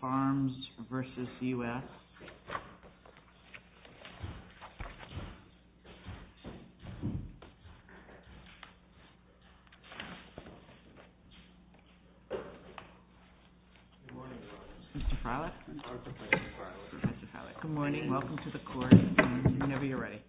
FARMS v. U.S. Good morning, welcome to the court. Whenever you're ready.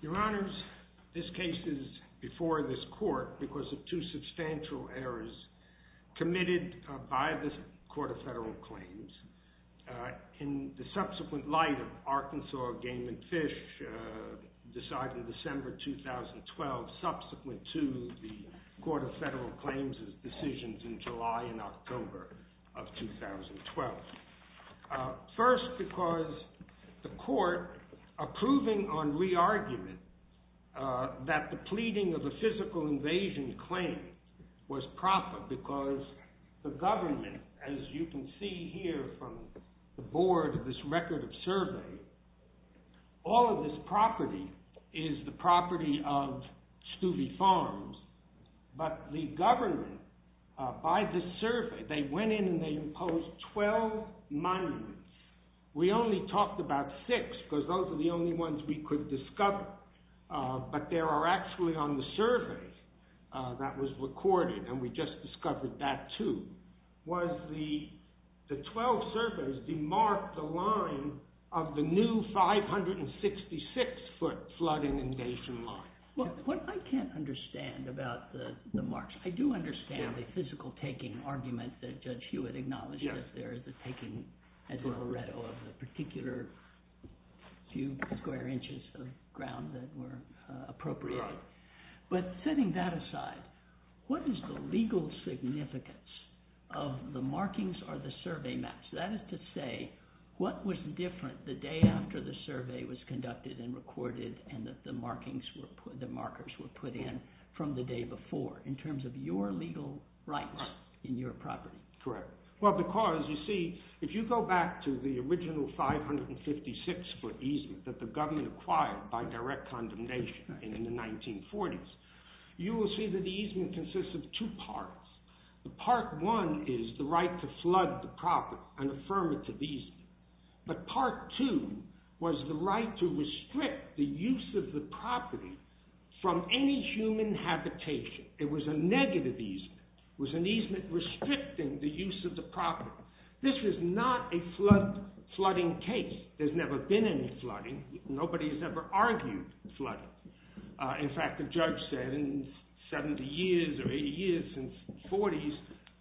Your Honors, this case is before this court because of two substantial errors committed by the Court of Federal Claims. In the subsequent light of Arkansas Game and Fish, decided in December 2012, subsequent to the Court of Federal Claims' decisions in July and October of 2012. First, because the court approving on re-argument that the pleading of a physical invasion claim was proper because the government, as you can see here from the board of this record of survey, all of this property is the property of Stueve Farms. But the government, by the survey, they went in and they imposed 12 monuments. We only talked about six because those are the only ones we could discover. But there are actually on the survey that was recorded, and we just discovered that too, was the 12 surveys demarked the line of the new 566 foot flood inundation line. What I can't understand about the marks, I do understand the physical taking argument that Judge Hewitt acknowledged that there is a taking of the particular few square inches of ground that were appropriated. But setting that aside, what is the legal significance of the markings or the survey maps? That is to say, what was different the day after the survey was conducted and recorded and that the markers were put in from the day before in terms of your legal rights in your property? Correct. Well, because, you see, if you go back to the original 556 foot easement that the government acquired by direct condemnation in the 1940s, you will see that the easement consists of two parts. Part one is the right to flood the property, an affirmative easement. But part two was the right to restrict the use of the property from any human habitation. It was a negative easement. It was an easement restricting the use of the property. This was not a flooding case. There's never been any flooding. Nobody's ever argued flooding. In fact, the judge said in 70 years or 80 years, since the 40s,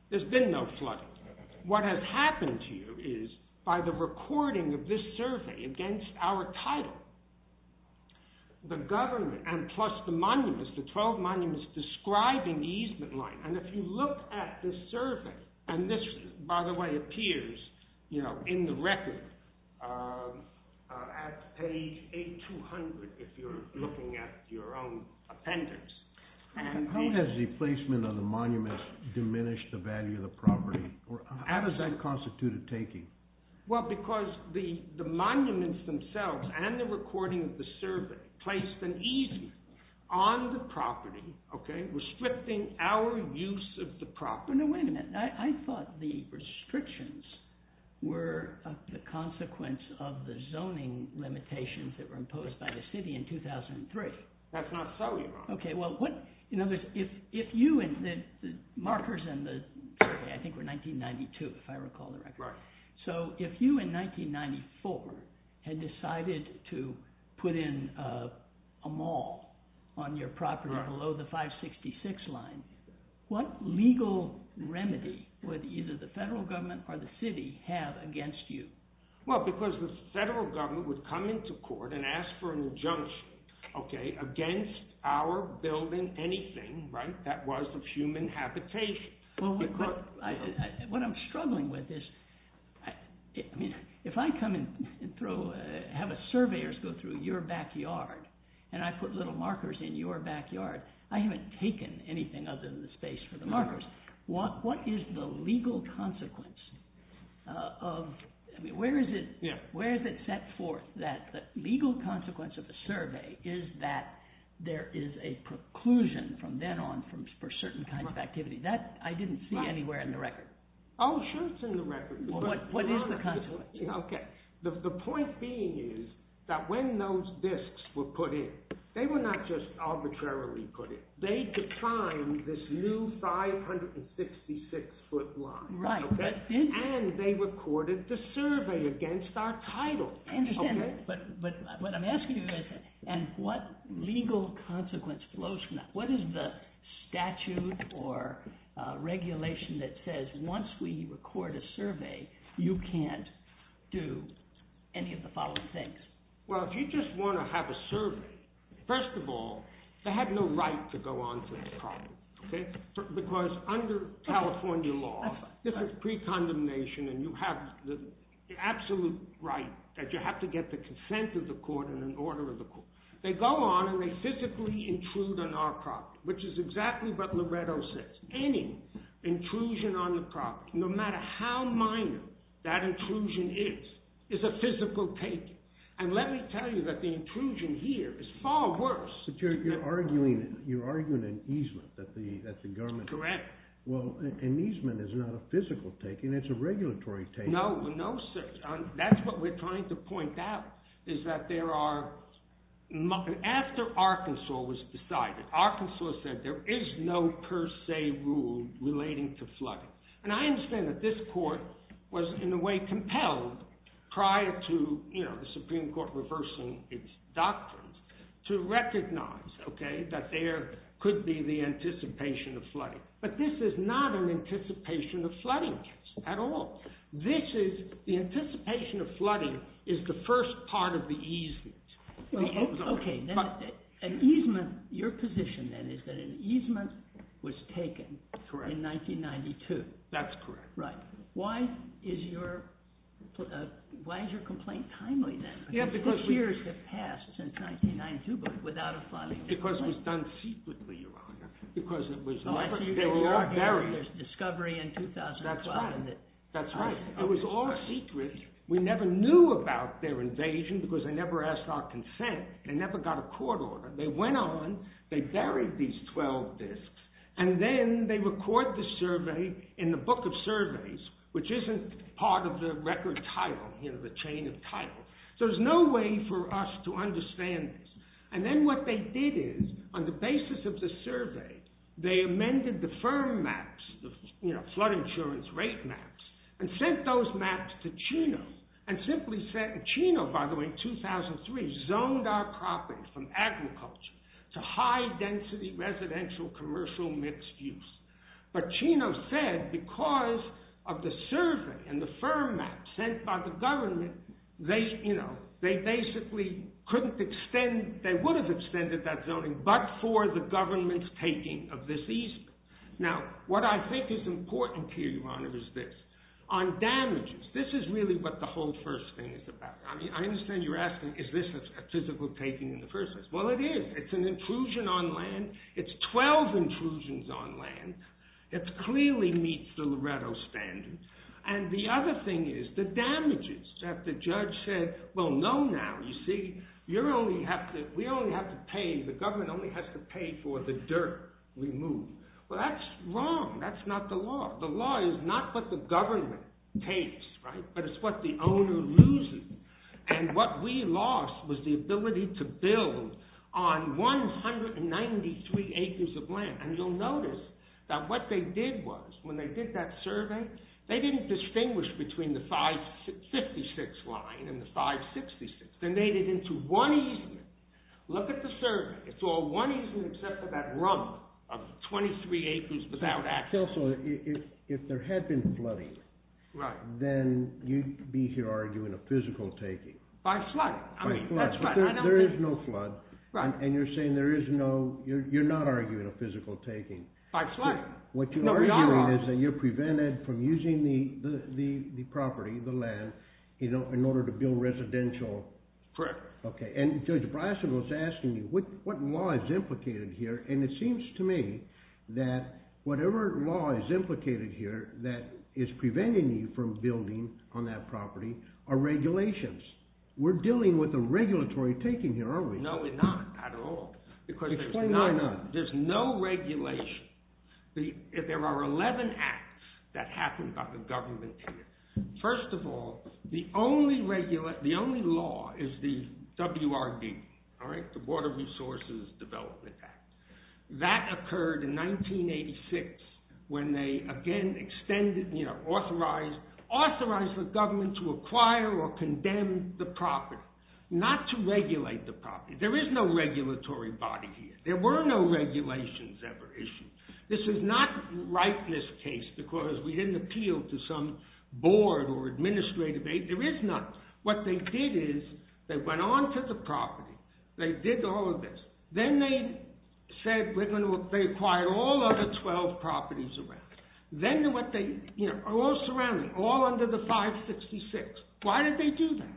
there's been no flooding. What has happened to you is by the recording of this survey against our title, the government and plus the monuments, the 12 monuments describing the easement line. And if you look at this survey, and this, by the way, appears in the record at page 8200, if you're looking at your own appendix. How has the placement of the monuments diminished the value of the property? How does that constitute a taking? Well, because the monuments themselves and the recording of the survey placed an easement on the property, restricting our use of the property. Now, wait a minute. I thought the restrictions were the consequence of the zoning limitations that were imposed by the city in 2003. That's not so, Your Honor. Okay, well, the markers in the survey, I think were 1992, if I recall correctly. So if you, in 1994, had decided to put in a mall on your property below the 566 line, what legal remedy would either the federal government or the city have against you? Well, because the federal government would come into court and ask for an injunction, okay, against our building anything, right, that was of human habitation. Well, what I'm struggling with is, I mean, if I come and have a surveyor go through your backyard, and I put little markers in your backyard, I haven't taken anything other than the space for the markers. What is the legal consequence of, I mean, where is it set forth that the legal consequence of a survey is that there is a preclusion from then on for certain kinds of activity? That I didn't see anywhere in the record. Oh, sure, it's in the record. What is the consequence? Okay, the point being is that when those disks were put in, they were not just arbitrarily put in. They defined this new 566 foot line. Right. And they recorded the survey against our title. I understand that, but what I'm asking you is, and what legal consequence flows from that? What is the statute or regulation that says once we record a survey, you can't do any of the following things? Well, if you just want to have a survey, first of all, they have no right to go on to this problem. Okay? Because under California law, this is precondemnation, and you have the absolute right that you have to get the consent of the court and an order of the court. And let me tell you that the intrusion here is far worse. But you're arguing an easement that the government… Correct. Well, an easement is not a physical taking. It's a regulatory taking. No, sir. That's what we're trying to point out, is that there are… After Arkansas was decided, Arkansas said there is no per se rule relating to flooding. And I understand that this court was in a way compelled prior to the Supreme Court reversing its doctrines to recognize that there could be the anticipation of flooding. But this is not an anticipation of flooding case at all. The anticipation of flooding is the first part of the easement. Okay. An easement, your position then is that an easement was taken in 1992. That's correct. Right. Why is your complaint timely then? Because years have passed since 1992 without a flooding. Because it was done secretly, Your Honor. Because it was never… Oh, I see what you're arguing. There's discovery in 2012. That's right. It was all secret. We never knew about their invasion because they never asked our consent. They never got a court order. They went on, they buried these 12 disks, and then they record the survey in the book of surveys, which isn't part of the record title, you know, the chain of title. So there's no way for us to understand this. And then what they did is, on the basis of the survey, they amended the firm maps, you know, flood insurance rate maps, and sent those maps to Chino. And simply said, Chino, by the way, 2003, zoned our property from agriculture to high-density residential commercial mixed use. But Chino said, because of the survey and the firm map sent by the government, they, you know, they basically couldn't extend, they would have extended that zoning but for the government's taking of this easement. Now, what I think is important here, Your Honor, is this. On damages, this is really what the whole first thing is about. I mean, I understand you're asking, is this a physical taking in the first place? Well, it is. It's an intrusion on land. It's 12 intrusions on land. It clearly meets the Loretto standards. And the other thing is, the damages that the judge said, well, no, now, you see, you only have to, we only have to pay, the government only has to pay for the dirt removed. Well, that's wrong. That's not the law. The law is not what the government takes, right? But it's what the owner loses. And what we lost was the ability to build on 193 acres of land. And you'll notice that what they did was, when they did that survey, they didn't distinguish between the 556 line and the 566. They made it into one easement. Look at the survey. It's all one easement except for that rump of 23 acres without access. If there had been flooding, then you'd be here arguing a physical taking. By flood. By flood. There is no flood. Right. And you're saying there is no, you're not arguing a physical taking. By flood. No, we are. What you're arguing is that you're prevented from using the property, the land, in order to build residential. Correct. Okay. And Judge Bryson was asking you, what law is implicated here? And it seems to me that whatever law is implicated here that is preventing you from building on that property are regulations. We're dealing with a regulatory taking here, aren't we? No, we're not at all. Explain why not. Because there's no regulation. There are 11 acts that happen by the government here. First of all, the only law is the WRB. All right? The Water Resources Development Act. That occurred in 1986 when they again extended, you know, authorized the government to acquire or condemn the property. Not to regulate the property. There is no regulatory body here. There were no regulations ever issued. This is not rightness case because we didn't appeal to some board or administrative aid. There is none. What they did is they went on to the property. They did all of this. Then they said they acquired all of the 12 properties around. Then what they, you know, all surrounding, all under the 566. Why did they do that?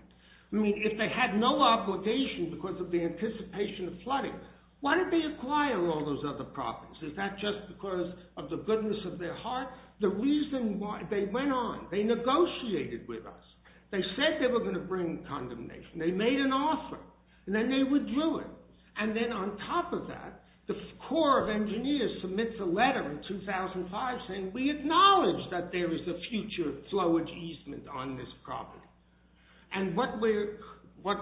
I mean, if they had no obligation because of the anticipation of flooding, why did they acquire all those other properties? Is that just because of the goodness of their heart? The reason why, they went on. They negotiated with us. They said they were going to bring condemnation. They made an offer. And then they withdrew it. And then on top of that, the Corps of Engineers submits a letter in 2005 saying, we acknowledge that there is a future flowage easement on this property. And what we're, what's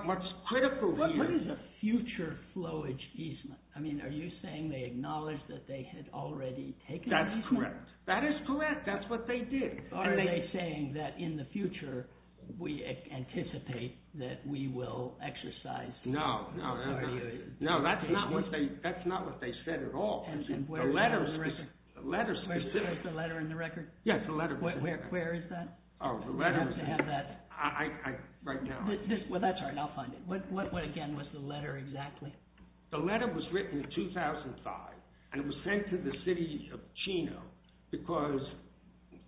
critical here. What is a future flowage easement? I mean, are you saying they acknowledge that they had already taken the easement? That's correct. That is correct. That's what they did. Are they saying that in the future, we anticipate that we will exercise? No, no, no. No, that's not what they said at all. And where's the letter in the record? Yes, the letter. Where is that? Oh, the letter. You have to have that. I, I, right now. Well, that's all right. I'll find it. What again was the letter exactly? The letter was written in 2005. And it was sent to the city of Chino because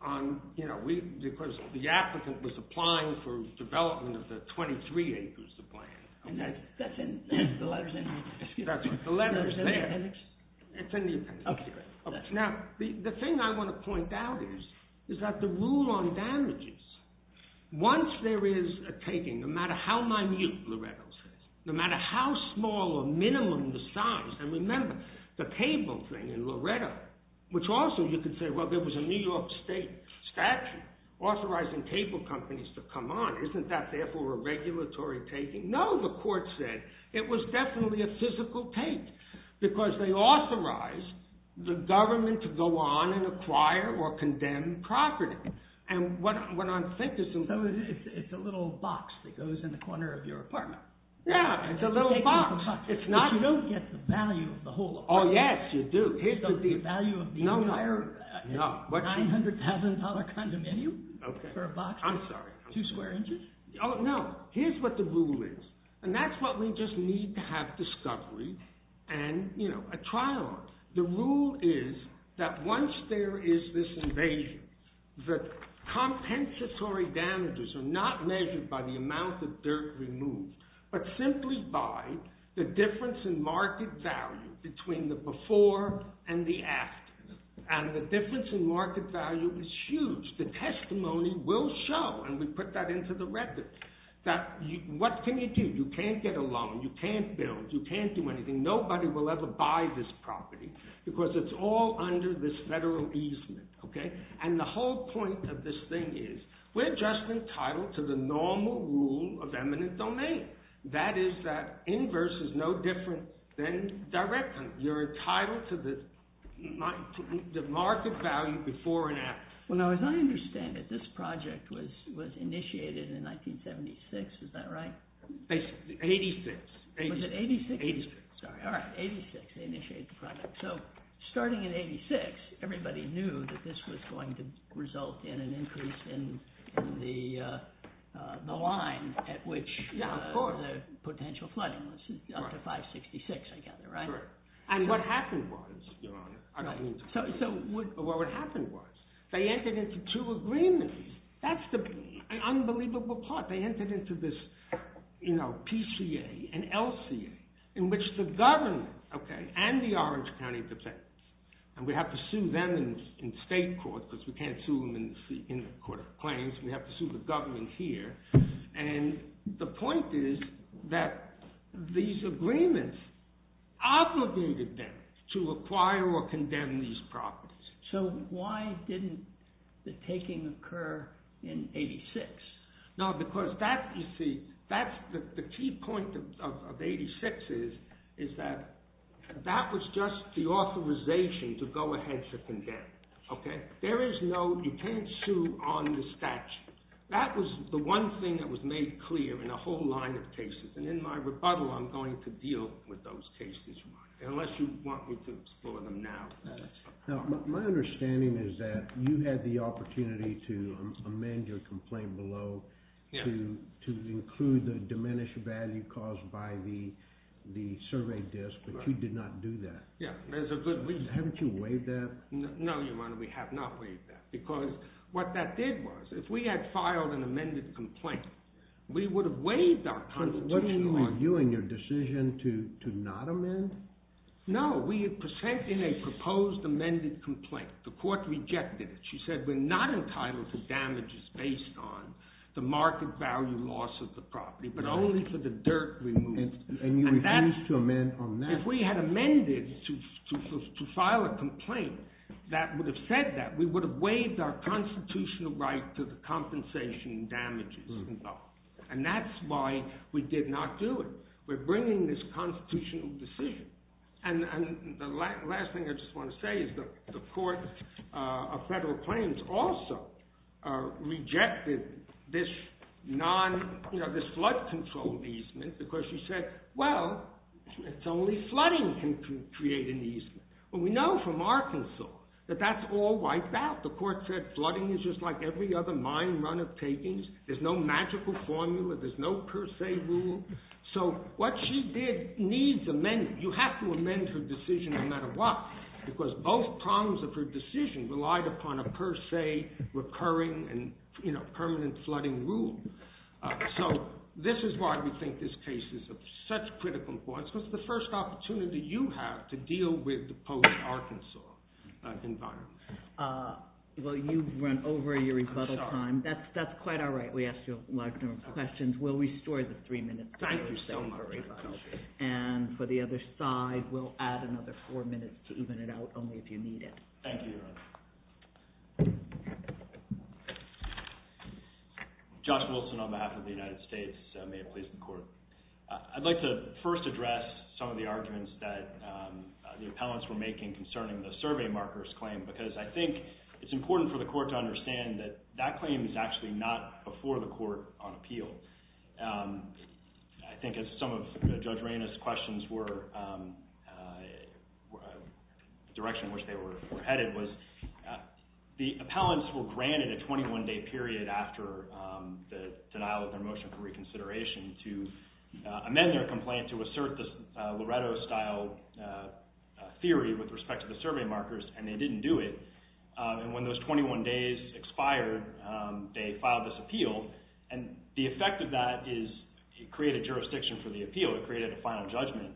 on, you know, we, because the applicant was applying for development of the 23 acres of land. Okay. That's in, the letter's in there. That's right. The letter's there. It's in the appendix. Okay. Now, the, the thing I want to point out is, is that the rule on damages, once there is a taking, no matter how minute, Loretto says, no matter how small or minimum the size. And remember, the table thing in Loretto, which also you could say, well, there was a New York state statute authorizing table companies to come on. Isn't that therefore a regulatory taking? No, the court said. It was definitely a physical take because they authorized the government to go on and acquire or condemn property. So it's a little box that goes in the corner of your apartment. Yeah. It's a little box. It's not. But you don't get the value of the whole apartment. Oh, yes, you do. Here's the deal. So the value of the entire $900,000 condominium? Okay. For a box? I'm sorry. Two square inches? Oh, no. Here's what the rule is. And that's what we just need to have discovery and, you know, a trial. The rule is that once there is this invasion, the compensatory damages are not measured by the amount of dirt removed, but simply by the difference in market value between the before and the after. And the difference in market value is huge. The testimony will show, and we put that into the record, that what can you do? You can't get a loan. You can't build. You can't do anything. Nobody will ever buy this property because it's all under this federal easement. Okay? And the whole point of this thing is we're just entitled to the normal rule of eminent domain. That is that inverse is no different than direct. You're entitled to the market value before and after. Well, now, as I understand it, this project was initiated in 1976. Is that right? 86. Was it 86? 86. Sorry. All right. 86. They initiated the project. So starting in 86, everybody knew that this was going to result in an increase in the line at which the potential flooding was up to 566, I gather. Right? Correct. And what happened was, Your Honor, I don't mean to… So what would happen was they entered into two agreements. That's the unbelievable part. They entered into this, you know, PCA and LCA in which the government, okay, and the Orange County Department, and we have to sue them in state court because we can't sue them in the court of claims. We have to sue the government here. And the point is that these agreements obligated them to acquire or condemn these properties. So why didn't the taking occur in 86? No, because that, you see, that's the key point of 86 is that that was just the authorization to go ahead to condemn, okay? There is no… You can't sue on the statute. That was the one thing that was made clear in a whole line of cases. And in my rebuttal, I'm going to deal with those cases, Your Honor, unless you want me to explore them now. Now, my understanding is that you had the opportunity to amend your complaint below to include the diminished value caused by the survey disc, but you did not do that. Yeah, there's a good reason. Haven't you waived that? No, Your Honor, we have not waived that. Because what that did was, if we had filed an amended complaint, we would have waived our constitutional argument. So what do you mean, you and your decision to not amend? No, we had presented a proposed amended complaint. The court rejected it. She said we're not entitled to damages based on the market value loss of the property, but only for the dirt removal. And you refused to amend on that? If we had amended to file a complaint that would have said that, we would have waived our constitutional right to the compensation and damages involved. And that's why we did not do it. We're bringing this constitutional decision. And the last thing I just want to say is that the court of federal claims also rejected this flood control easement because she said, well, it's only flooding can create an easement. Well, we know from Arkansas that that's all wiped out. The court said flooding is just like every other mine run of takings. There's no magical formula. There's no per se rule. So what she did needs amending. You have to amend her decision no matter what, because both prongs of her decision relied upon a per se recurring and permanent flooding rule. So this is why we think this case is of such critical importance, because it's the first opportunity you have to deal with the post-Arkansas environment. Well, you've run over your rebuttal time. That's quite all right. We asked you a large number of questions. We'll restore the three minutes. Thank you so much. And for the other side, we'll add another four minutes to even it out only if you need it. Thank you. Josh Wilson on behalf of the United States. May it please the court. I'd like to first address some of the arguments that the appellants were making concerning the survey markers claim, because I think it's important for the court to understand that that claim is actually not before the court on appeal. I think as some of Judge Reyna's questions were, the direction in which they were headed was the appellants were granted a 21-day period after the denial of their motion for reconsideration to amend their complaint to assert the Loretto-style theory with respect to the survey markers, and they didn't do it. And when those 21 days expired, they filed this appeal. And the effect of that is it created jurisdiction for the appeal. It created a final judgment.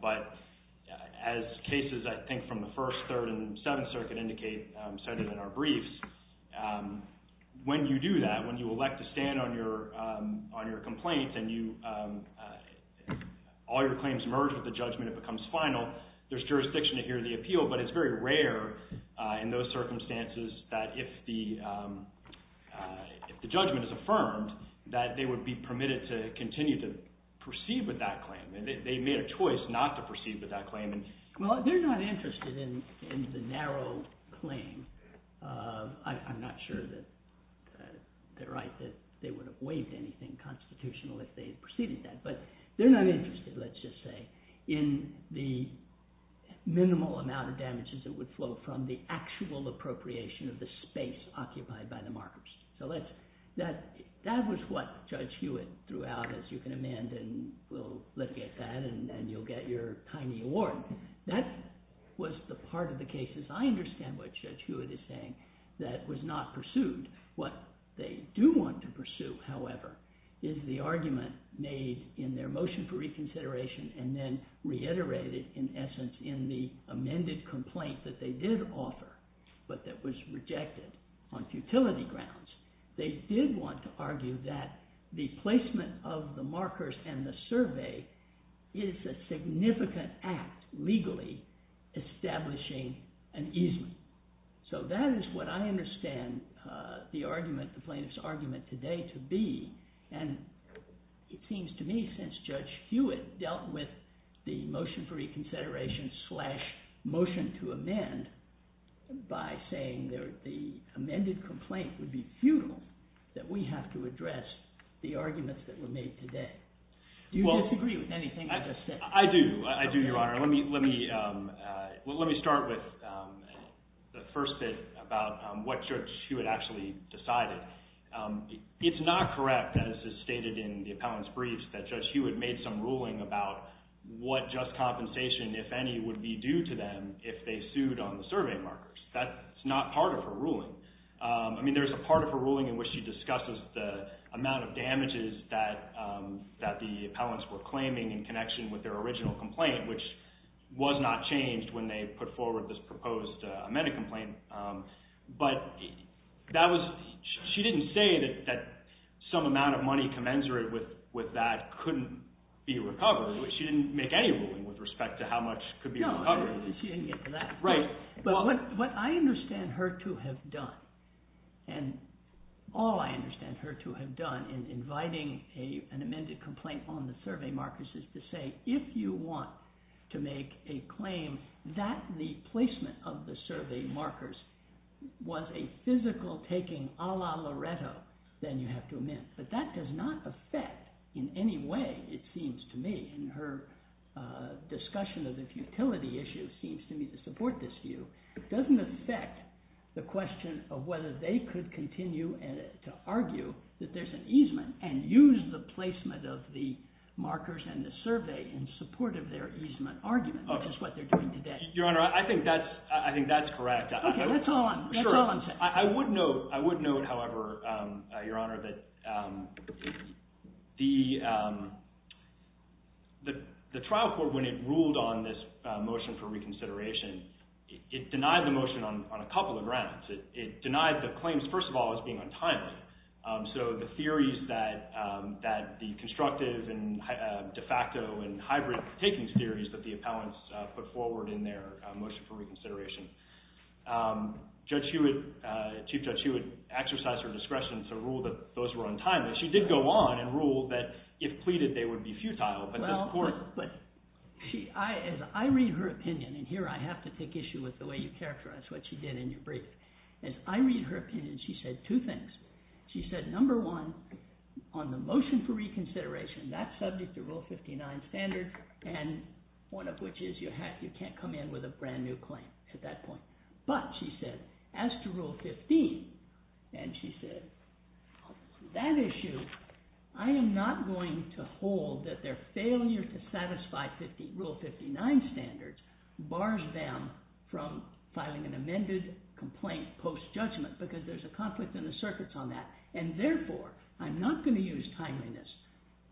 But as cases, I think, from the First, Third, and Seventh Circuit said it in our briefs, when you do that, when you elect to stand on your complaint and all your claims merge with the judgment, it becomes final, there's jurisdiction to hear the appeal. But it's very rare in those circumstances that if the judgment is affirmed, that they would be permitted to continue to proceed with that claim. They made a choice not to proceed with that claim. Well, they're not interested in the narrow claim. I'm not sure that they're right that they would have waived anything constitutional if they had proceeded that. But they're not interested, let's just say, in the minimal amount of damages that would flow from the actual appropriation of the space occupied by the markers. So that was what Judge Hewitt threw out, as you can amend, and we'll look at that, and you'll get your tiny award. That was the part of the cases, I understand what Judge Hewitt is saying, that was not pursued. What they do want to pursue, however, is the argument made in their motion for reconsideration and then reiterated in essence in the amended complaint that they did offer, but that was rejected on futility grounds. They did want to argue that the placement of the markers and the survey is a significant act legally establishing an easement. So that is what I understand the argument, the plaintiff's argument today to be. And it seems to me since Judge Hewitt dealt with the motion for reconsideration slash motion to amend by saying that the amended complaint would be futile, that we have to address the arguments that were made today. Do you disagree with anything I just said? I do. I do, Your Honor. Let me start with the first bit about what Judge Hewitt actually decided. It's not correct, as is stated in the appellant's briefs, that Judge Hewitt made some ruling about what just compensation, if any, would be due to them if they sued on the survey markers. That's not part of her ruling. I mean, there's a part of her ruling in which she discusses the amount of damages that the was not changed when they put forward this proposed amended complaint. But that was, she didn't say that some amount of money commensurate with that couldn't be recovered. She didn't make any ruling with respect to how much could be recovered. No, she didn't get to that. Right. But what I understand her to have done, and all I understand her to have done in inviting an amended complaint on the survey markers is to say, if you want to make a claim that the placement of the survey markers was a physical taking a la Loreto, then you have to amend. But that does not affect in any way, it seems to me, in her discussion of the futility issue, seems to me to support this view. It doesn't affect the question of whether they could continue to argue that there's an easement and use the placement of the markers and the survey in support of their easement argument, which is what they're doing today. Your Honor, I think that's correct. Okay, that's all I'm saying. I would note, however, Your Honor, that the trial court, when it ruled on this motion for reconsideration, it denied the motion on a couple of grounds. It denied the claims, first of all, as being untimely. So the theories that the constructive and de facto and hybrid takings theories that the appellants put forward in their motion for reconsideration. Chief Judge Hewitt exercised her discretion to rule that those were untimely. She did go on and rule that if pleaded, they would be futile. As I read her opinion, and here I have to take issue with the way you characterize what she did in your brief, as I read her opinion, she said two things. She said, number one, on the motion for reconsideration, that's subject to Rule 59 standards, and one of which is you can't come in with a brand new claim at that point. But, she said, as to Rule 15, and she said, that issue, I am not going to hold that their post-judgment, because there's a conflict in the circuits on that. And therefore, I'm not going to use timeliness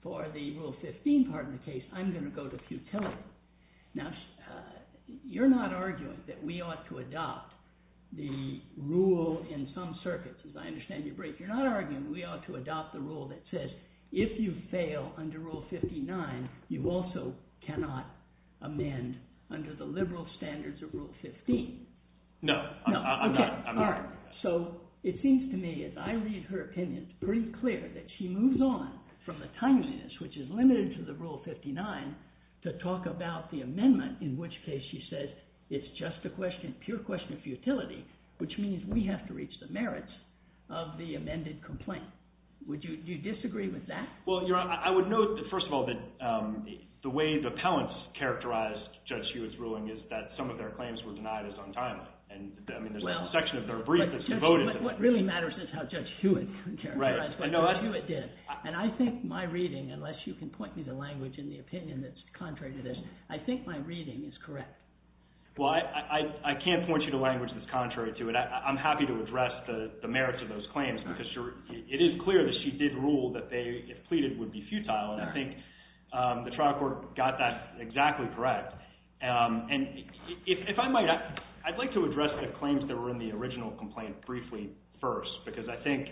for the Rule 15 part of the case. I'm going to go to futility. Now, you're not arguing that we ought to adopt the rule in some circuits, as I understand your brief. You're not arguing we ought to adopt the rule that says, if you fail under Rule 59, you also cannot amend under the liberal standards of Rule 15. No, I'm not. Okay, all right. So, it seems to me, as I read her opinion, it's pretty clear that she moves on from the timeliness, which is limited to the Rule 59, to talk about the amendment, in which case she says, it's just a question, pure question of futility, which means we have to reach the merits of the amended complaint. Do you disagree with that? Well, Your Honor, I would note, first of all, that the way the appellants characterized Judge Hewitt's ruling is that some of their claims were denied as untimely. And, I mean, there's a section of their brief that's devoted to that. But what really matters is how Judge Hewitt characterized what Judge Hewitt did. And I think my reading, unless you can point me to language in the opinion that's contrary to this, I think my reading is correct. Well, I can't point you to language that's contrary to it. I'm happy to address the merits of those claims, because it is clear that she did rule that they, if pleaded, would be futile. And I think the trial court got that exactly correct. And if I might, I'd like to address the claims that were in the original complaint briefly first, because I think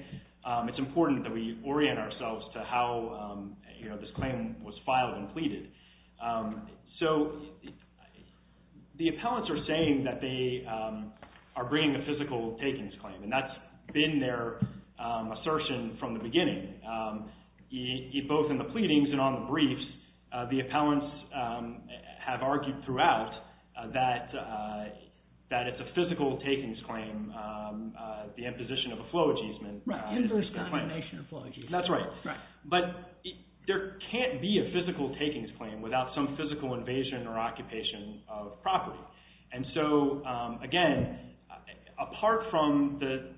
it's important that we orient ourselves to how this claim was filed and pleaded. So the appellants are saying that they are bringing a physical takings claim, and that's been their assertion from the beginning. Both in the pleadings and on the briefs, the appellants have argued throughout that it's a physical takings claim, the imposition of a flow ageism. Right. Inverse condemnation of flow ageism. That's right. Right. But there can't be a physical takings claim without some physical invasion or occupation of property. And so, again, apart from the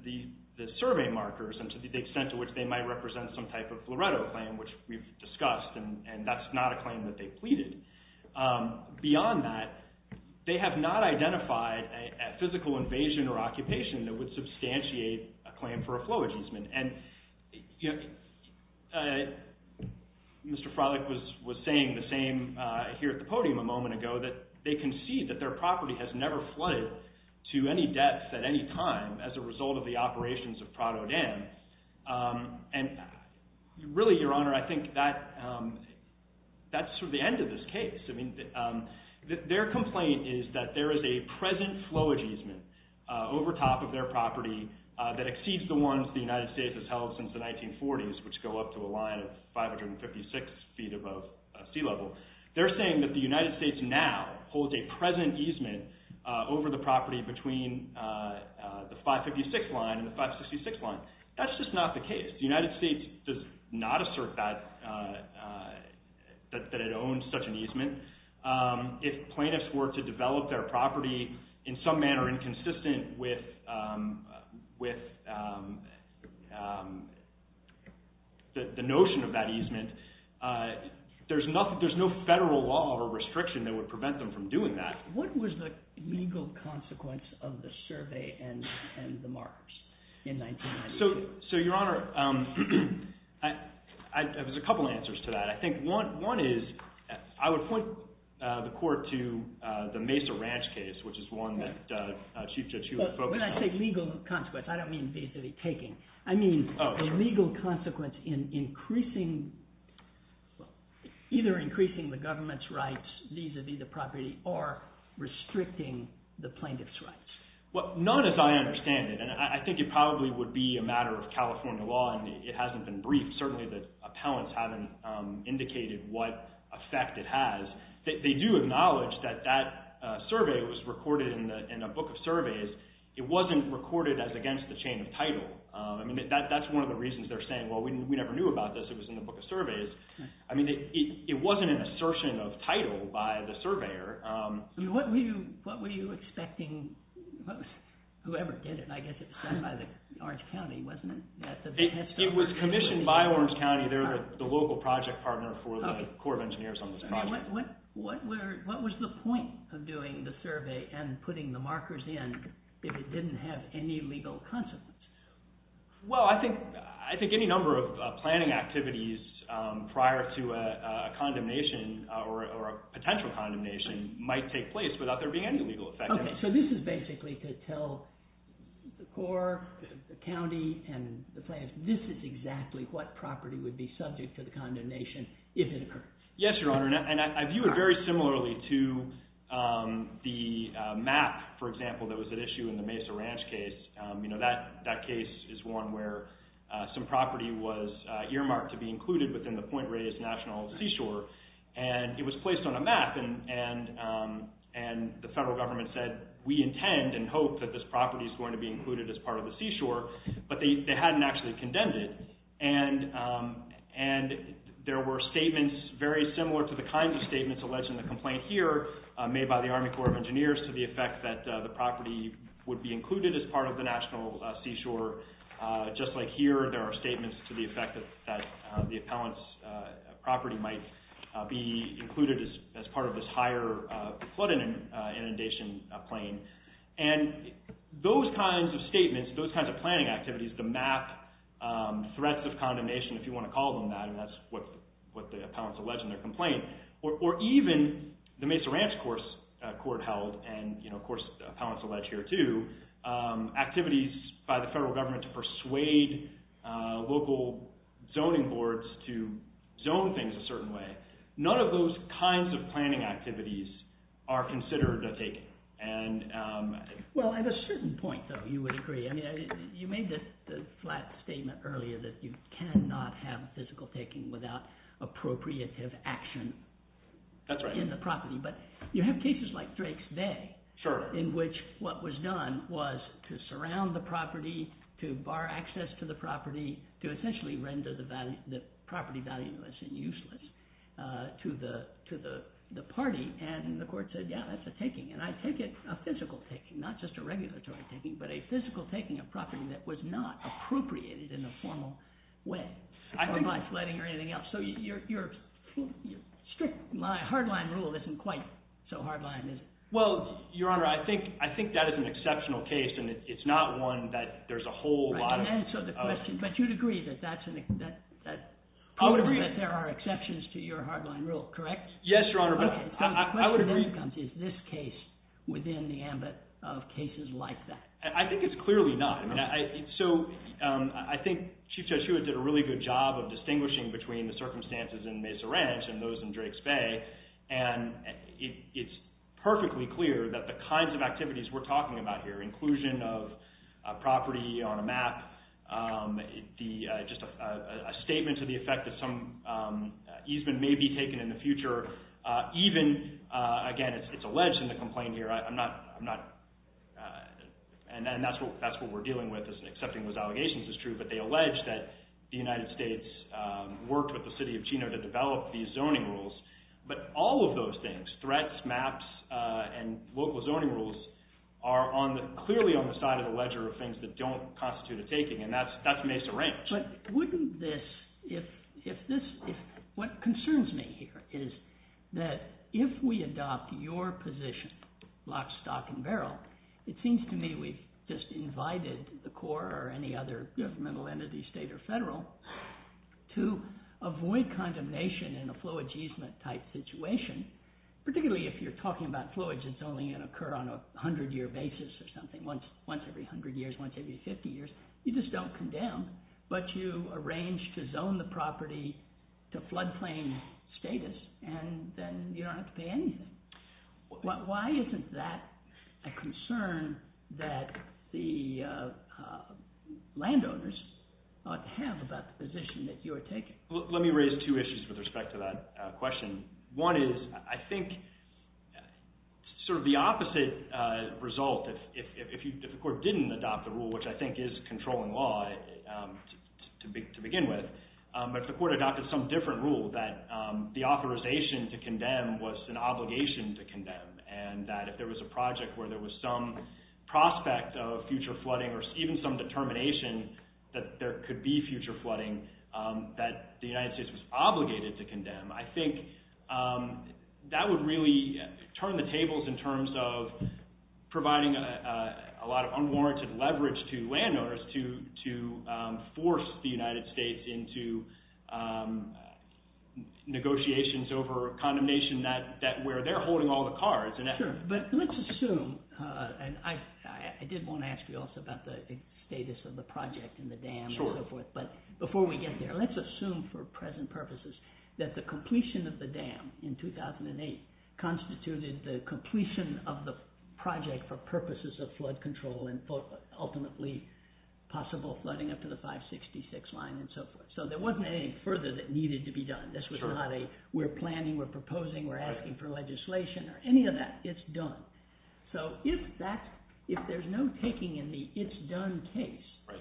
survey markers and to the extent to which they might represent some type of Loretto claim, which we've discussed, and that's not a claim that they pleaded. Beyond that, they have not identified a physical invasion or occupation that would substantiate a claim for a flow ageism. And Mr. Froelich was saying the same here at the podium a moment ago, that they concede that their property has never flooded to any depth at any time as a result of the operations of Prado Dam. And really, Your Honor, I think that's sort of the end of this case. I mean, their complaint is that there is a present flow ageism over top of their property that exceeds the ones the United States has held since the 1940s, which go up to a line of 556 feet above sea level. They're saying that the United States now holds a present easement over the property between the 556 line and the 566 line. That's just not the case. The United States does not assert that it owns such an easement. If plaintiffs were to develop their property in some manner inconsistent with the notion of that easement, there's no federal law or restriction that would prevent them from doing that. What was the legal consequence of the survey and the markers in 1998? So, Your Honor, there's a couple answers to that. I think one is, I would point the court to the Mesa Ranch case, which is one that Chief Judge Hewitt focused on. When I say legal consequence, I don't mean vis-a-vis taking. I mean the legal consequence in either increasing the government's rights vis-a-vis the property or restricting the plaintiff's rights. Well, not as I understand it, and I think it probably would be a matter of California law and it hasn't been briefed. Certainly the appellants haven't indicated what effect it has. They do acknowledge that that survey was recorded in a book of surveys. It wasn't recorded as against the chain of title. That's one of the reasons they're saying, well, we never knew about this. It was in the book of surveys. It wasn't an assertion of title by the surveyor. What were you expecting? Whoever did it, I guess it was done by Orange County, wasn't it? It was commissioned by Orange County. They're the local project partner for the Corps of Engineers on this project. What was the point of doing the survey and putting the markers in if it didn't have any legal consequence? Well, I think any number of planning activities prior to a condemnation or a potential condemnation might take place without there being any legal effect. Okay, so this is basically to tell the Corps, the county, and the plaintiffs, this is exactly what property would be subject to the condemnation if it occurred. Yes, Your Honor, and I view it very similarly to the map, for example, that was at issue in the Mesa Ranch case. That case is one where some property was earmarked to be included within the Point Reyes National Seashore, and it was placed on a map, and the federal government said, we intend and hope that this property is going to be included as part of the seashore, but they hadn't actually condemned it, and there were statements very similar to the kinds of statements alleged in the complaint here made by the Army Corps of Engineers to the effect that the property would be included as part of the National Seashore. Just like here, there are statements to the effect that the appellant's property might be included as part of this higher flood inundation plain, and those kinds of statements, those kinds of planning activities, the map, threats of condemnation, if you want to call them that, and that's what the appellants allege in their complaint, or even the Mesa Ranch Court held, and of course, appellants allege here too, activities by the federal government to persuade local zoning boards to zone things a certain way. None of those kinds of planning activities are considered a taking. Well, at a certain point, though, you would agree. I mean, you made this flat statement earlier that you cannot have physical taking without appropriative action in the property, but you have cases like Drake's Bay, in which what was done was to surround the property, to bar access to the property, to essentially render the property valueless and useless to the party, and the court said, yeah, that's a taking, and I take it a physical taking, not just a regulatory taking, but a physical taking of property that was not appropriated in a formal way by flooding or anything else. So your strict hardline rule isn't quite so hardline, is it? Well, Your Honor, I think that is an exceptional case, and it's not one that there's a whole lot of... Right, to answer the question, but you'd agree that there are exceptions to your hardline rule, correct? Yes, Your Honor, but I would agree... The question then comes, is this case within the ambit of cases like that? I think it's clearly not. So I think Chief Judge Hewitt did a really good job of distinguishing between the circumstances in Mesa Ranch and those in Drake's Bay, and it's perfectly clear that the kinds of activities we're talking about here, inclusion of property on a map, just a statement to the effect that some easement may be taken in the future, even, again, it's alleged in the complaint here, and that's what we're dealing with, is accepting those allegations is true, but they allege that the United States worked with the city of Chino to develop these zoning rules, but all of those things, threats, maps, and local zoning rules, are clearly on the side of the ledger of things that don't constitute a taking, and that's Mesa Ranch. But wouldn't this, if this... What concerns me here is that if we adopt your position, lock, stock, and barrel, it seems to me we've just invited the Corps or any other governmental entity, state or federal, to avoid condemnation in a fluid easement type situation, particularly if you're talking about fluids that's only going to occur on a 100-year basis or something, once every 100 years, once every 50 years, you just don't condemn, but you arrange to zone the property to floodplain status, and then you don't have to pay anything. Why isn't that a concern that the landowners ought to have about the position that you are taking? Let me raise two issues with respect to that question. One is, I think, sort of the opposite result, if the Corps didn't adopt the rule, which I think is controlling law to begin with, but if the Corps adopted some different rule that the authorization to condemn was an obligation to condemn, and that if there was a project where there was some prospect of future flooding or even some determination that there could be future flooding that the United States was obligated to condemn, I think that would really turn the tables in terms of providing a lot of unwarranted leverage to landowners to force the United States into negotiations over condemnation where they're holding all the cards. Sure, but let's assume, and I did want to ask you also about the status of the project and the dam and so forth, but before we get there, let's assume for present purposes that the completion of the dam in 2008 constituted the completion of the project for purposes of flood control and ultimately possible flooding up to the 566 line and so forth. So there wasn't anything further that needed to be done. This was not a, we're planning, we're proposing, we're asking for legislation or any of that. It's done. So if there's no taking in the it's done case,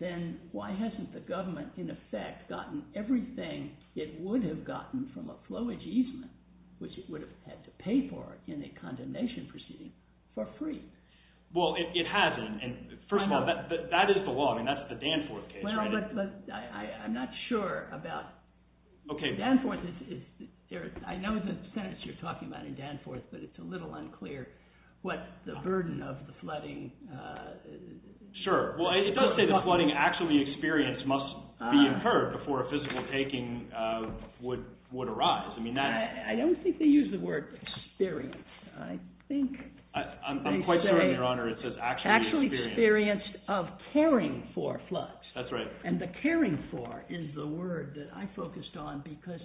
then why hasn't the government, in effect, gotten everything it would have gotten from a flowage easement, which it would have had to pay for in a condemnation proceeding, for free? Well, it hasn't. First of all, that is the law. I mean, that's the Danforth case. Well, but I'm not sure about Danforth. Danforth is, I know the sentence you're talking about in Danforth, but it's a little unclear what the burden of the flooding... Sure. Well, it does say that flooding actually experienced must be incurred before a physical taking would arise. I mean, that... I don't think they use the word experience. I think... I'm quite certain, Your Honor, it says actually experienced. Actually experienced of caring for floods. That's right. And the caring for is the word that I focused on because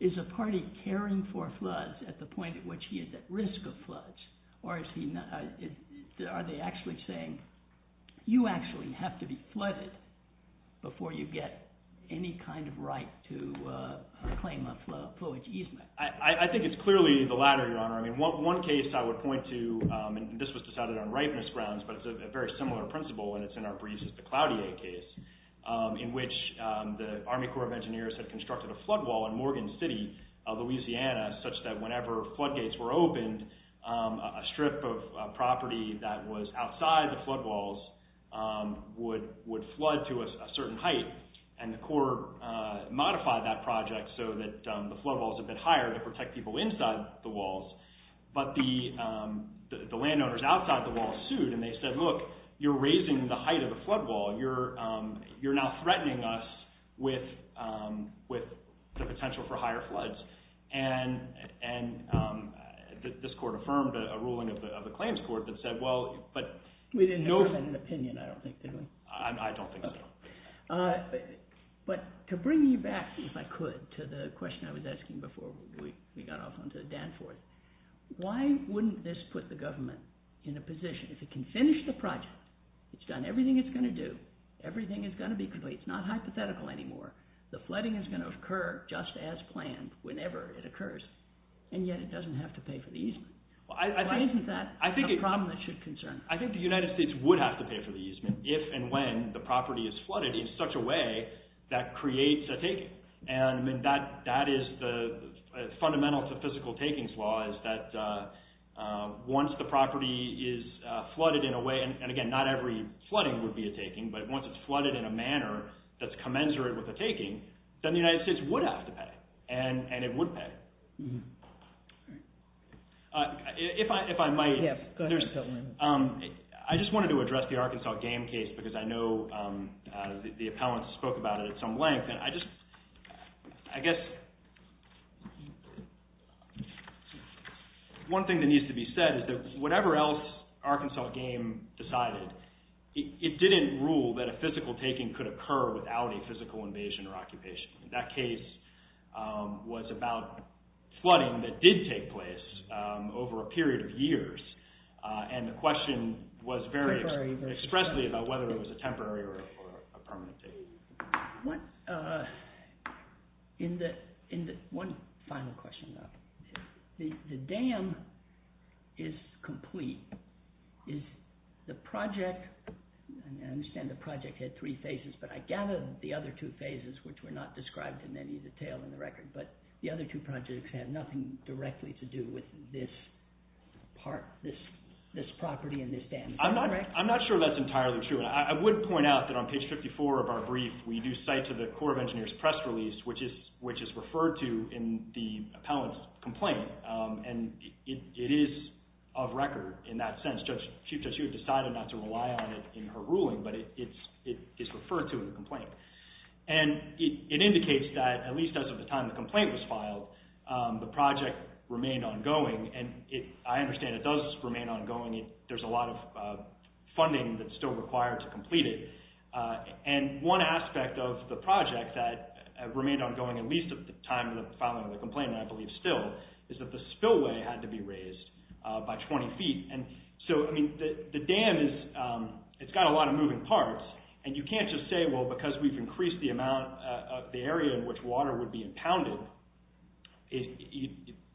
is a party caring for floods at the point at which he is at risk of floods, or are they actually saying, you actually have to be flooded before you get any kind of right to claim a flowage easement? I think it's clearly the latter, Your Honor. I mean, one case I would point to, and this was decided on rightness grounds, but it's a very similar principle, and it's in our briefs as the Cloutier case, in which the Army Corps of Engineers had constructed a flood wall in Morgan City, Louisiana, such that whenever flood gates were opened, a strip of property that was outside the flood walls would flood to a certain height, and the Corps modified that project so that the flood walls But the landowners outside the wall sued, and they said, look, you're raising the height of the flood wall. You're now threatening us with the potential for higher floods, and this court affirmed a ruling of the claims court that said, well, but... We didn't have an opinion, I don't think, did we? I don't think so. But to bring you back, if I could, to the question I was asking before we got off onto Danforth, why wouldn't this put the government in a position, if it can finish the project, it's done everything it's going to do, everything is going to be complete, it's not hypothetical anymore, the flooding is going to occur just as planned whenever it occurs, and yet it doesn't have to pay for the easement. Why isn't that a problem that should concern us? I think the United States would have to pay for the easement if and when the property is flooded in such a way that creates a taking. That is the fundamental to physical takings law, is that once the property is flooded in a way, and again, not every flooding would be a taking, but once it's flooded in a manner that's commensurate with a taking, then the United States would have to pay, and it would pay. I just wanted to address the Arkansas game case, because I know the appellants spoke about it at some length, and I guess one thing that needs to be said is that whatever else Arkansas game decided, it didn't rule that a physical taking could occur without a physical invasion or occupation. That case was about flooding that did take place over a period of years, and the question was very expressly about whether it was a temporary or a permanent taking. One final question, though. The dam is complete. The project, and I understand the project had three phases, but I gather the other two phases, which were not described in any detail in the record, but the other two projects have nothing directly to do with this property and this dam. Am I correct? I'm not sure that's entirely true, and I would point out that on page 54 of our brief, we do cite to the Corps of Engineers press release, which is referred to in the appellant's complaint, and it is of record in that sense. Chief Judge Hughes decided not to rely on it in her ruling, but it is referred to in the complaint. It indicates that at least as of the time the complaint was filed, the project remained ongoing, and I understand it does remain ongoing. There's a lot of funding that's still required to complete it. One aspect of the project that remained ongoing at least at the time of the filing of the complaint, and I believe still, is that the spillway had to be raised by 20 feet. The dam, it's got a lot of moving parts, and you can't just say, well, because we've increased the area in which water would be impounded,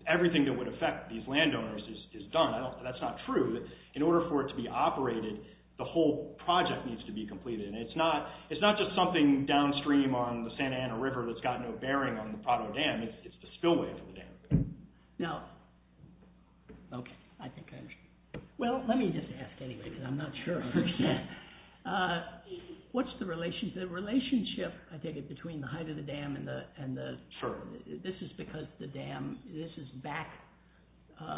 everything that would affect these landowners is done. That's not true. In order for it to be operated, the whole project needs to be completed, and it's not just something downstream on the Santa Ana River that's got no bearing on the Prado Dam, it's the spillway for the dam. Now, okay, I think I understand. Well, let me just ask anyway, because I'm not sure I understand. What's the relationship, I take it, between the height of the dam and the... Sure. This is because the dam, this is back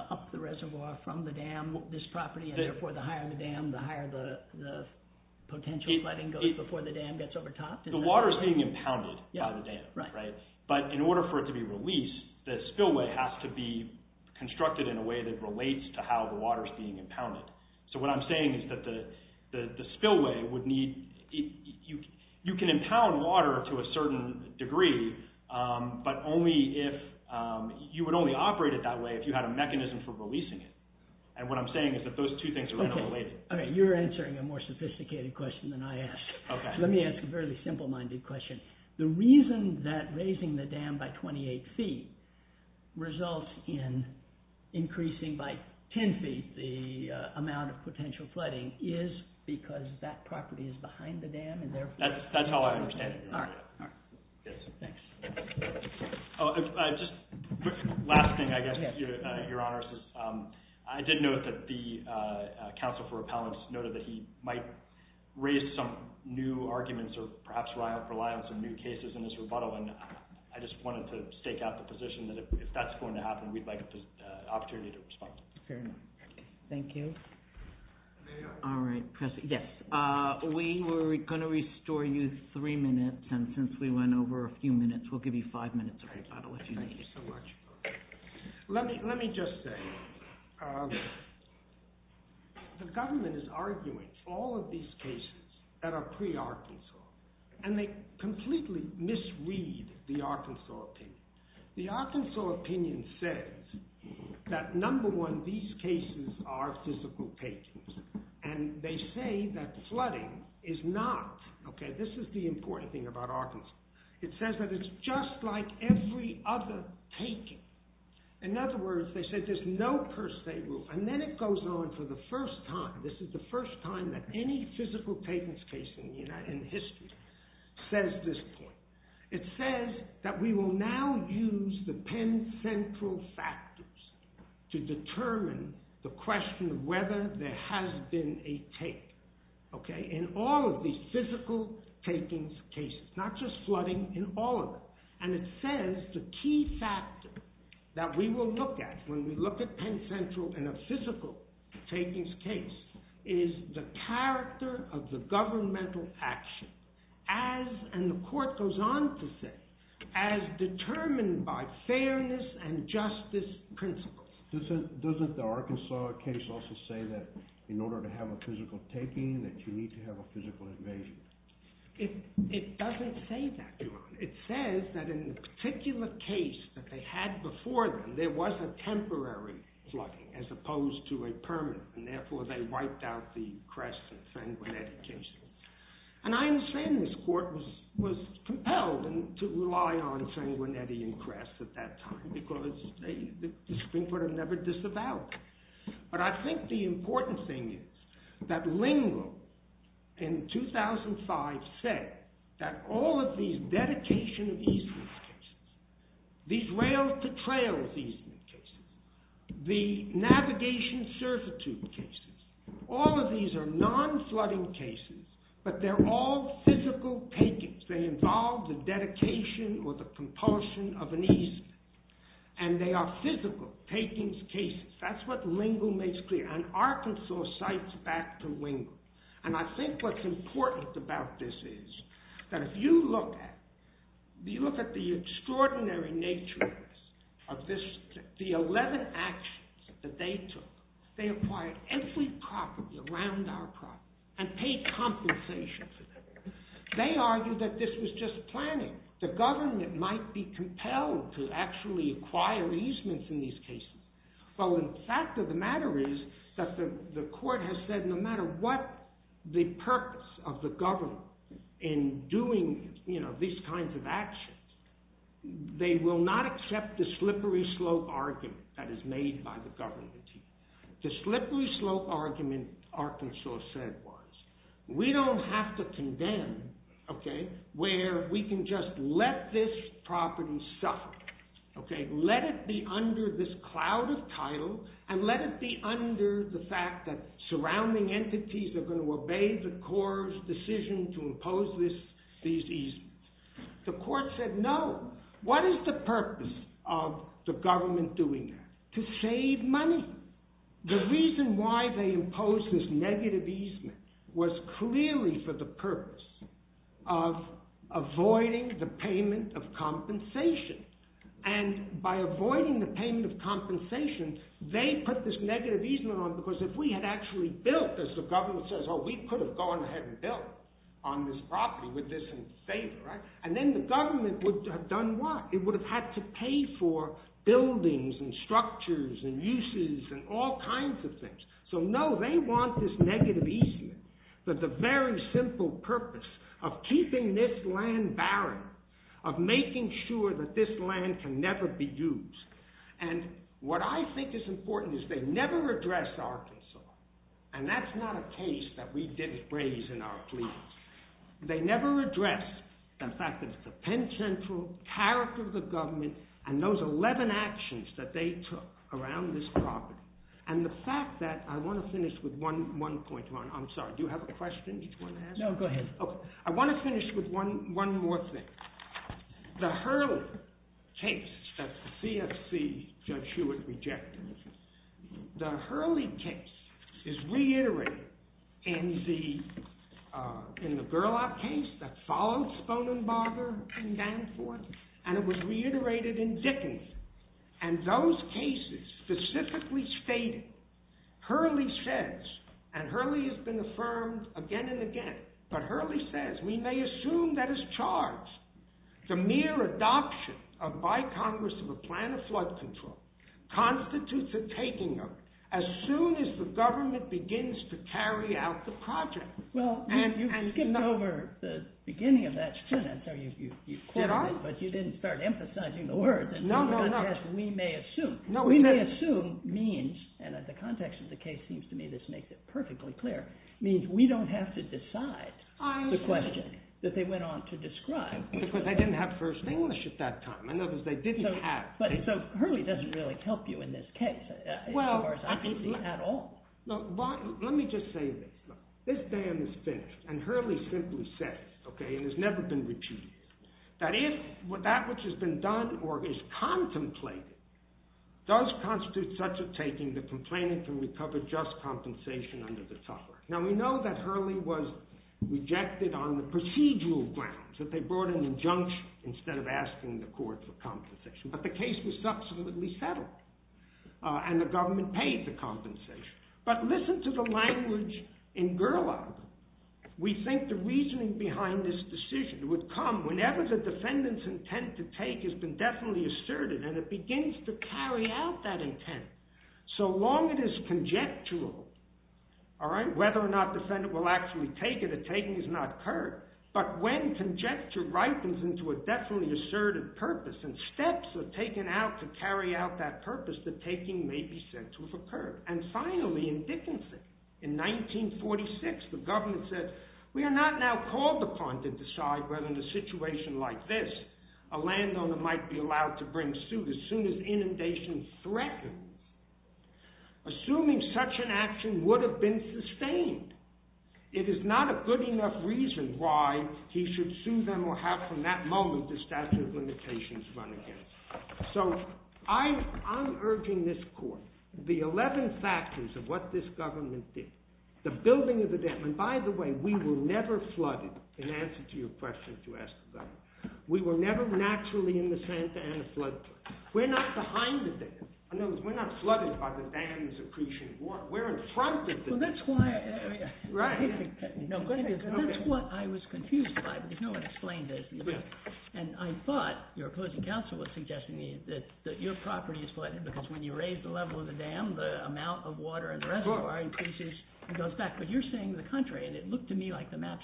up the reservoir from the dam, this property, and therefore the higher the dam, the higher the potential flooding goes before the dam gets overtopped? The water is being impounded by the dam. Right. But in order for it to be released, the spillway has to be constructed in a way that relates to how the water is being impounded. So what I'm saying is that the spillway would need... You can impound water to a certain degree, but only if... You would only operate it that way if you had a mechanism for releasing it. And what I'm saying is that those two things are interrelated. Okay. All right. You're answering a more sophisticated question than I asked. Okay. Let me ask a fairly simple-minded question. Okay. The reason that raising the dam by 28 feet results in increasing by 10 feet the amount of potential flooding is because that property is behind the dam and therefore... That's how I understand it. All right. All right. Yes. Thanks. Last thing, I guess, to your honors. I did note that the counsel for repellents noted that he might raise some new arguments or perhaps rely on some new cases in this rebuttal. And I just wanted to stake out the position that if that's going to happen, we'd like an opportunity to respond. Fair enough. Okay. Thank you. All right. Yes. We were going to restore you three minutes, and since we went over a few minutes, we'll give you five minutes of rebuttal if you need it. Thank you so much. Let me just say, the government is arguing all of these cases that are pre-Arkansas, and they completely misread the Arkansas opinion. The Arkansas opinion says that, number one, these cases are physical takings. And they say that flooding is not... Okay, this is the important thing about Arkansas. It says that it's just like every other taking. In other words, they said there's no per se rule. And then it goes on for the first time. This is the first time that any physical takings case in history says this point. It says that we will now use the Penn Central factors to determine the question of whether there has been a take. Okay? In all of these physical takings cases. Not just flooding, in all of them. And it says the key factor that we will look at when we look at Penn Central in a physical takings case is the character of the governmental action. As, and the court goes on to say, as determined by fairness and justice principles. Doesn't the Arkansas case also say that in order to have a physical taking, that you need to have a physical invasion? It doesn't say that, Your Honor. It says that in the particular case that they had before them, there was a temporary flooding as opposed to a permanent. And therefore, they wiped out the Cress and Sanguinetti cases. And I understand this court was compelled to rely on Sanguinetti and Cress at that time because the Supreme Court had never disavowed them. But I think the important thing is that Lindlow in 2005 said that all of these dedication easements cases, these rails to trails easement cases, the navigation servitude cases, all of these are non-flooding cases, but they're all physical takings. They involve the dedication or the compulsion of an easement. And they are physical takings cases. That's what Lindlow makes clear. And Arkansas cites back to Lindlow. And I think what's important about this is that if you look at the extraordinary nature of this, the 11 actions that they took, they acquired every property around our property and paid compensation for that. They argued that this was just planning. The government might be compelled to actually acquire easements in these cases. Well, the fact of the matter is that the court has said no matter what the purpose of the government in doing these kinds of actions, they will not accept the slippery slope argument that is made by the government. The slippery slope argument, Arkansas said, was we don't have to condemn where we can just let this property suffer. Let it be under this cloud of title and let it be under the fact that surrounding entities are going to obey the court's decision to impose these easements. The court said no. What is the purpose of the government doing that? To save money. The reason why they imposed this negative easement was clearly for the purpose of avoiding the payment of compensation. And by avoiding the payment of compensation, they put this negative easement on because if we had actually built, as the government says, oh, we could have gone ahead and built on this property with this in favor, right? And then the government would have done what? It would have had to pay for buildings and structures and uses and all kinds of things. So no, they want this negative easement. But the very simple purpose of keeping this land barren, of making sure that this land can never be used. And what I think is important is they never addressed Arkansas. And that's not a case that we didn't raise in our plea. They never addressed the fact that it's a Penn Central character of the government and those 11 actions that they took around this property. And the fact that I want to finish with one point, Ron. I'm sorry. Do you have a question you want to ask? No, go ahead. OK. I want to finish with one more thing. The Hurley case that the CFC Judge Hewitt rejected, the Hurley case is reiterated in the Gerlaub case that followed Sponenbarger in Danforth. And it was reiterated in Dickens. And those cases specifically stated, Hurley says, and Hurley has been affirmed again and again, but Hurley says, we may assume that as charged, the mere adoption by Congress of a plan of flood control constitutes a taking of it as soon as the government begins to carry out the project. Well, you skipped over the beginning of that sentence. Did I? No, but you didn't start emphasizing the words. No, no, no. We may assume. We may assume means, and the context of the case seems to me this makes it perfectly clear, means we don't have to decide the question that they went on to describe. Because they didn't have first English at that time. In other words, they didn't have. So Hurley doesn't really help you in this case, as far as I can see, at all. Let me just say this. This ban is finished. And Hurley simply said it. OK? And it's never been repeated. That if that which has been done or is contemplated does constitute such a taking, the complainant can recover just compensation under the tougher. Now, we know that Hurley was rejected on the procedural grounds, that they brought an injunction instead of asking the court for compensation. But the case was subsequently settled. And the government paid the compensation. But listen to the language in Gerlaub. We think the reasoning behind this decision would come whenever the defendant's intent to take has been definitely asserted. And it begins to carry out that intent. So long it is conjectural, all right, whether or not the defendant will actually take it, a taking is not curved. But when conjecture ripens into a definitely assertive purpose and steps are taken out to carry out that purpose, the taking may be said to have occurred. And finally, in Dickinson, in 1946, the government said, we are not now called upon to decide whether in a situation like this, a landowner might be allowed to bring suit as soon as inundation threatens. Assuming such an action would have been sustained, it is not a good enough reason why he should sue them or have from that moment the statute of limitations run again. So I'm urging this court. The 11 factors of what this government did, the building of the dam. And by the way, we were never flooded in answer to your question to ask the government. We were never naturally in the Santa Ana flood zone. We're not behind the dam. In other words, we're not flooded by the dam's accretion. We're in front of the dam. Well, that's why. Right. No, go ahead. That's what I was confused by because no one explained this. And I thought your opposing counsel was suggesting that your property is flooded because when you raise the level of the dam, the amount of water in the reservoir increases and goes back. But you're saying the contrary. And it looked to me like the maps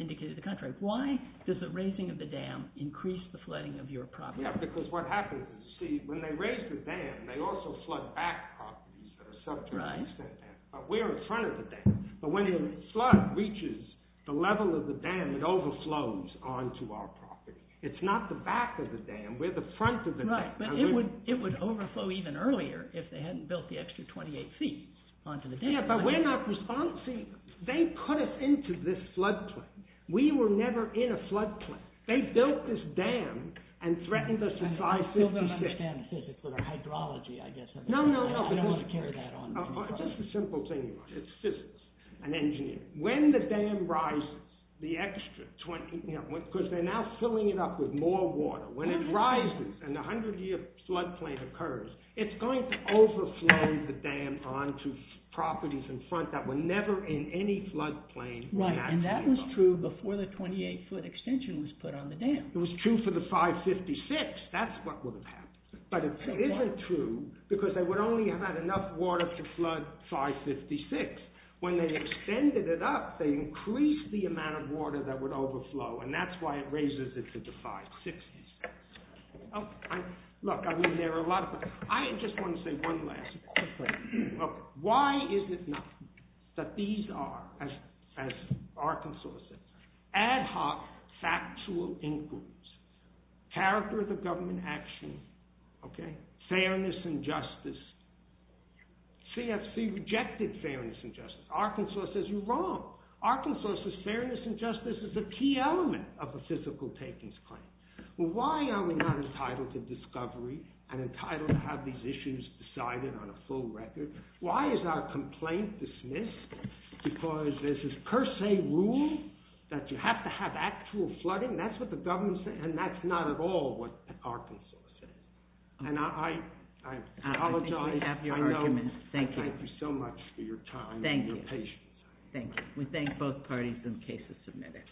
indicated the contrary. Why does the raising of the dam increase the flooding of your property? Yeah, because what happens is, see, when they raise the dam, they also flood back properties that are subject to the same dam. Right. But we're in front of the dam. But when a flood reaches the level of the dam, it overflows onto our property. It's not the back of the dam. We're the front of the dam. Right. But it would overflow even earlier if they hadn't built the extra 28 feet onto the dam. Yeah, but we're not responsible. They put us into this floodplain. We were never in a floodplain. They built this dam and threatened us to fly 50 feet. I don't understand physics, but our hydrology, I guess, I don't want to carry that on. No, no, no. Just a simple thing. It's physics and engineering. When the dam rises, the extra 20 feet, because they're now filling it up with more water. When it rises and the 100-year floodplain occurs, it's going to overflow the dam onto properties in front that were never in any floodplain when that came up. Right, and that was true before the 28-foot extension was put on the dam. It was true for the 556. That's what would have happened. But it isn't true because they would only have had enough water to flood 556. When they extended it up, they increased the amount of water that would overflow, and that's why it raises it to the 560s. Look, I mean, there are a lot of things. I just want to say one last thing. Why is it not that these are, as Arkansas says, ad hoc factual includes, character of the government action, fairness and justice. CFC rejected fairness and justice. Arkansas says, you're wrong. Arkansas says fairness and justice is a key element of a physical takings claim. Well, why are we not entitled to discovery and entitled to have these issues decided on a full record? Why is our complaint dismissed? Because there's this per se rule that you have to have actual flooding. That's what the government said, and that's not at all what Arkansas said. And I apologize. I think we have your argument. Thank you. Thank you so much for your time and your patience. Thank you. We thank both parties and cases submitted.